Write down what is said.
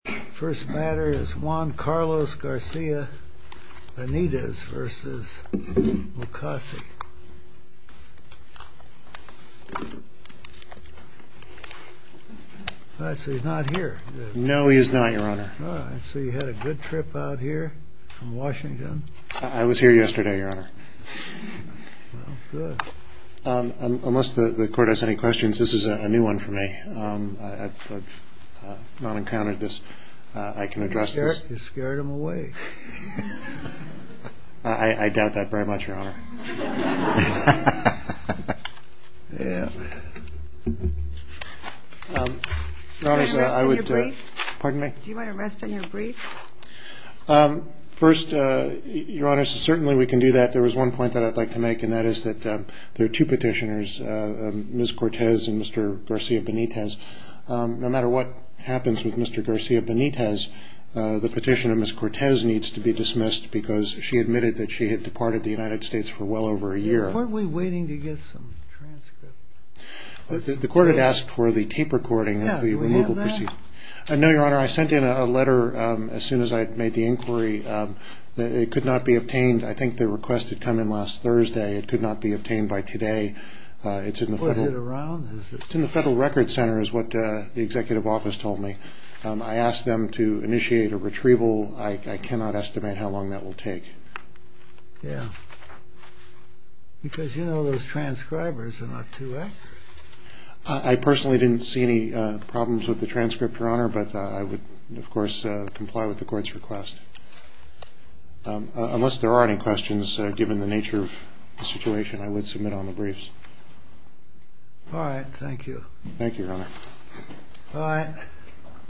First matter is Juan Carlos Garcia Benitez v. Mukasey. So he's not here? No, he is not, Your Honor. So you had a good trip out here from Washington? I was here yesterday, Your Honor. Well, good. Unless the Court has any questions, this is a new one for me. I've not encountered this. I can address this. You scared him away. I doubt that very much, Your Honor. Do you mind resting your briefs? First, Your Honor, certainly we can do that. There was one point that I'd like to make, and that is that there are two petitioners, Ms. Cortez and Mr. Garcia Benitez. No matter what happens with Mr. Garcia Benitez, the petition of Ms. Cortez needs to be dismissed because she admitted that she had departed the United States for well over a year. Weren't we waiting to get some transcripts? The Court had asked for the tape recording of the removal proceedings. Yeah, do we have that? No, Your Honor. I sent in a letter as soon as I had made the inquiry. It could not be obtained. I think the request had come in last Thursday. It could not be obtained by today. Was it around? It's in the Federal Records Center is what the Executive Office told me. I asked them to initiate a retrieval. I cannot estimate how long that will take. Yeah, because you know those transcribers are not too accurate. I personally didn't see any problems with the transcript, Your Honor, but I would, of course, comply with the Court's request. Unless there are any questions, given the nature of the situation, I would submit on the briefs. All right, thank you. Thank you, Your Honor. All right.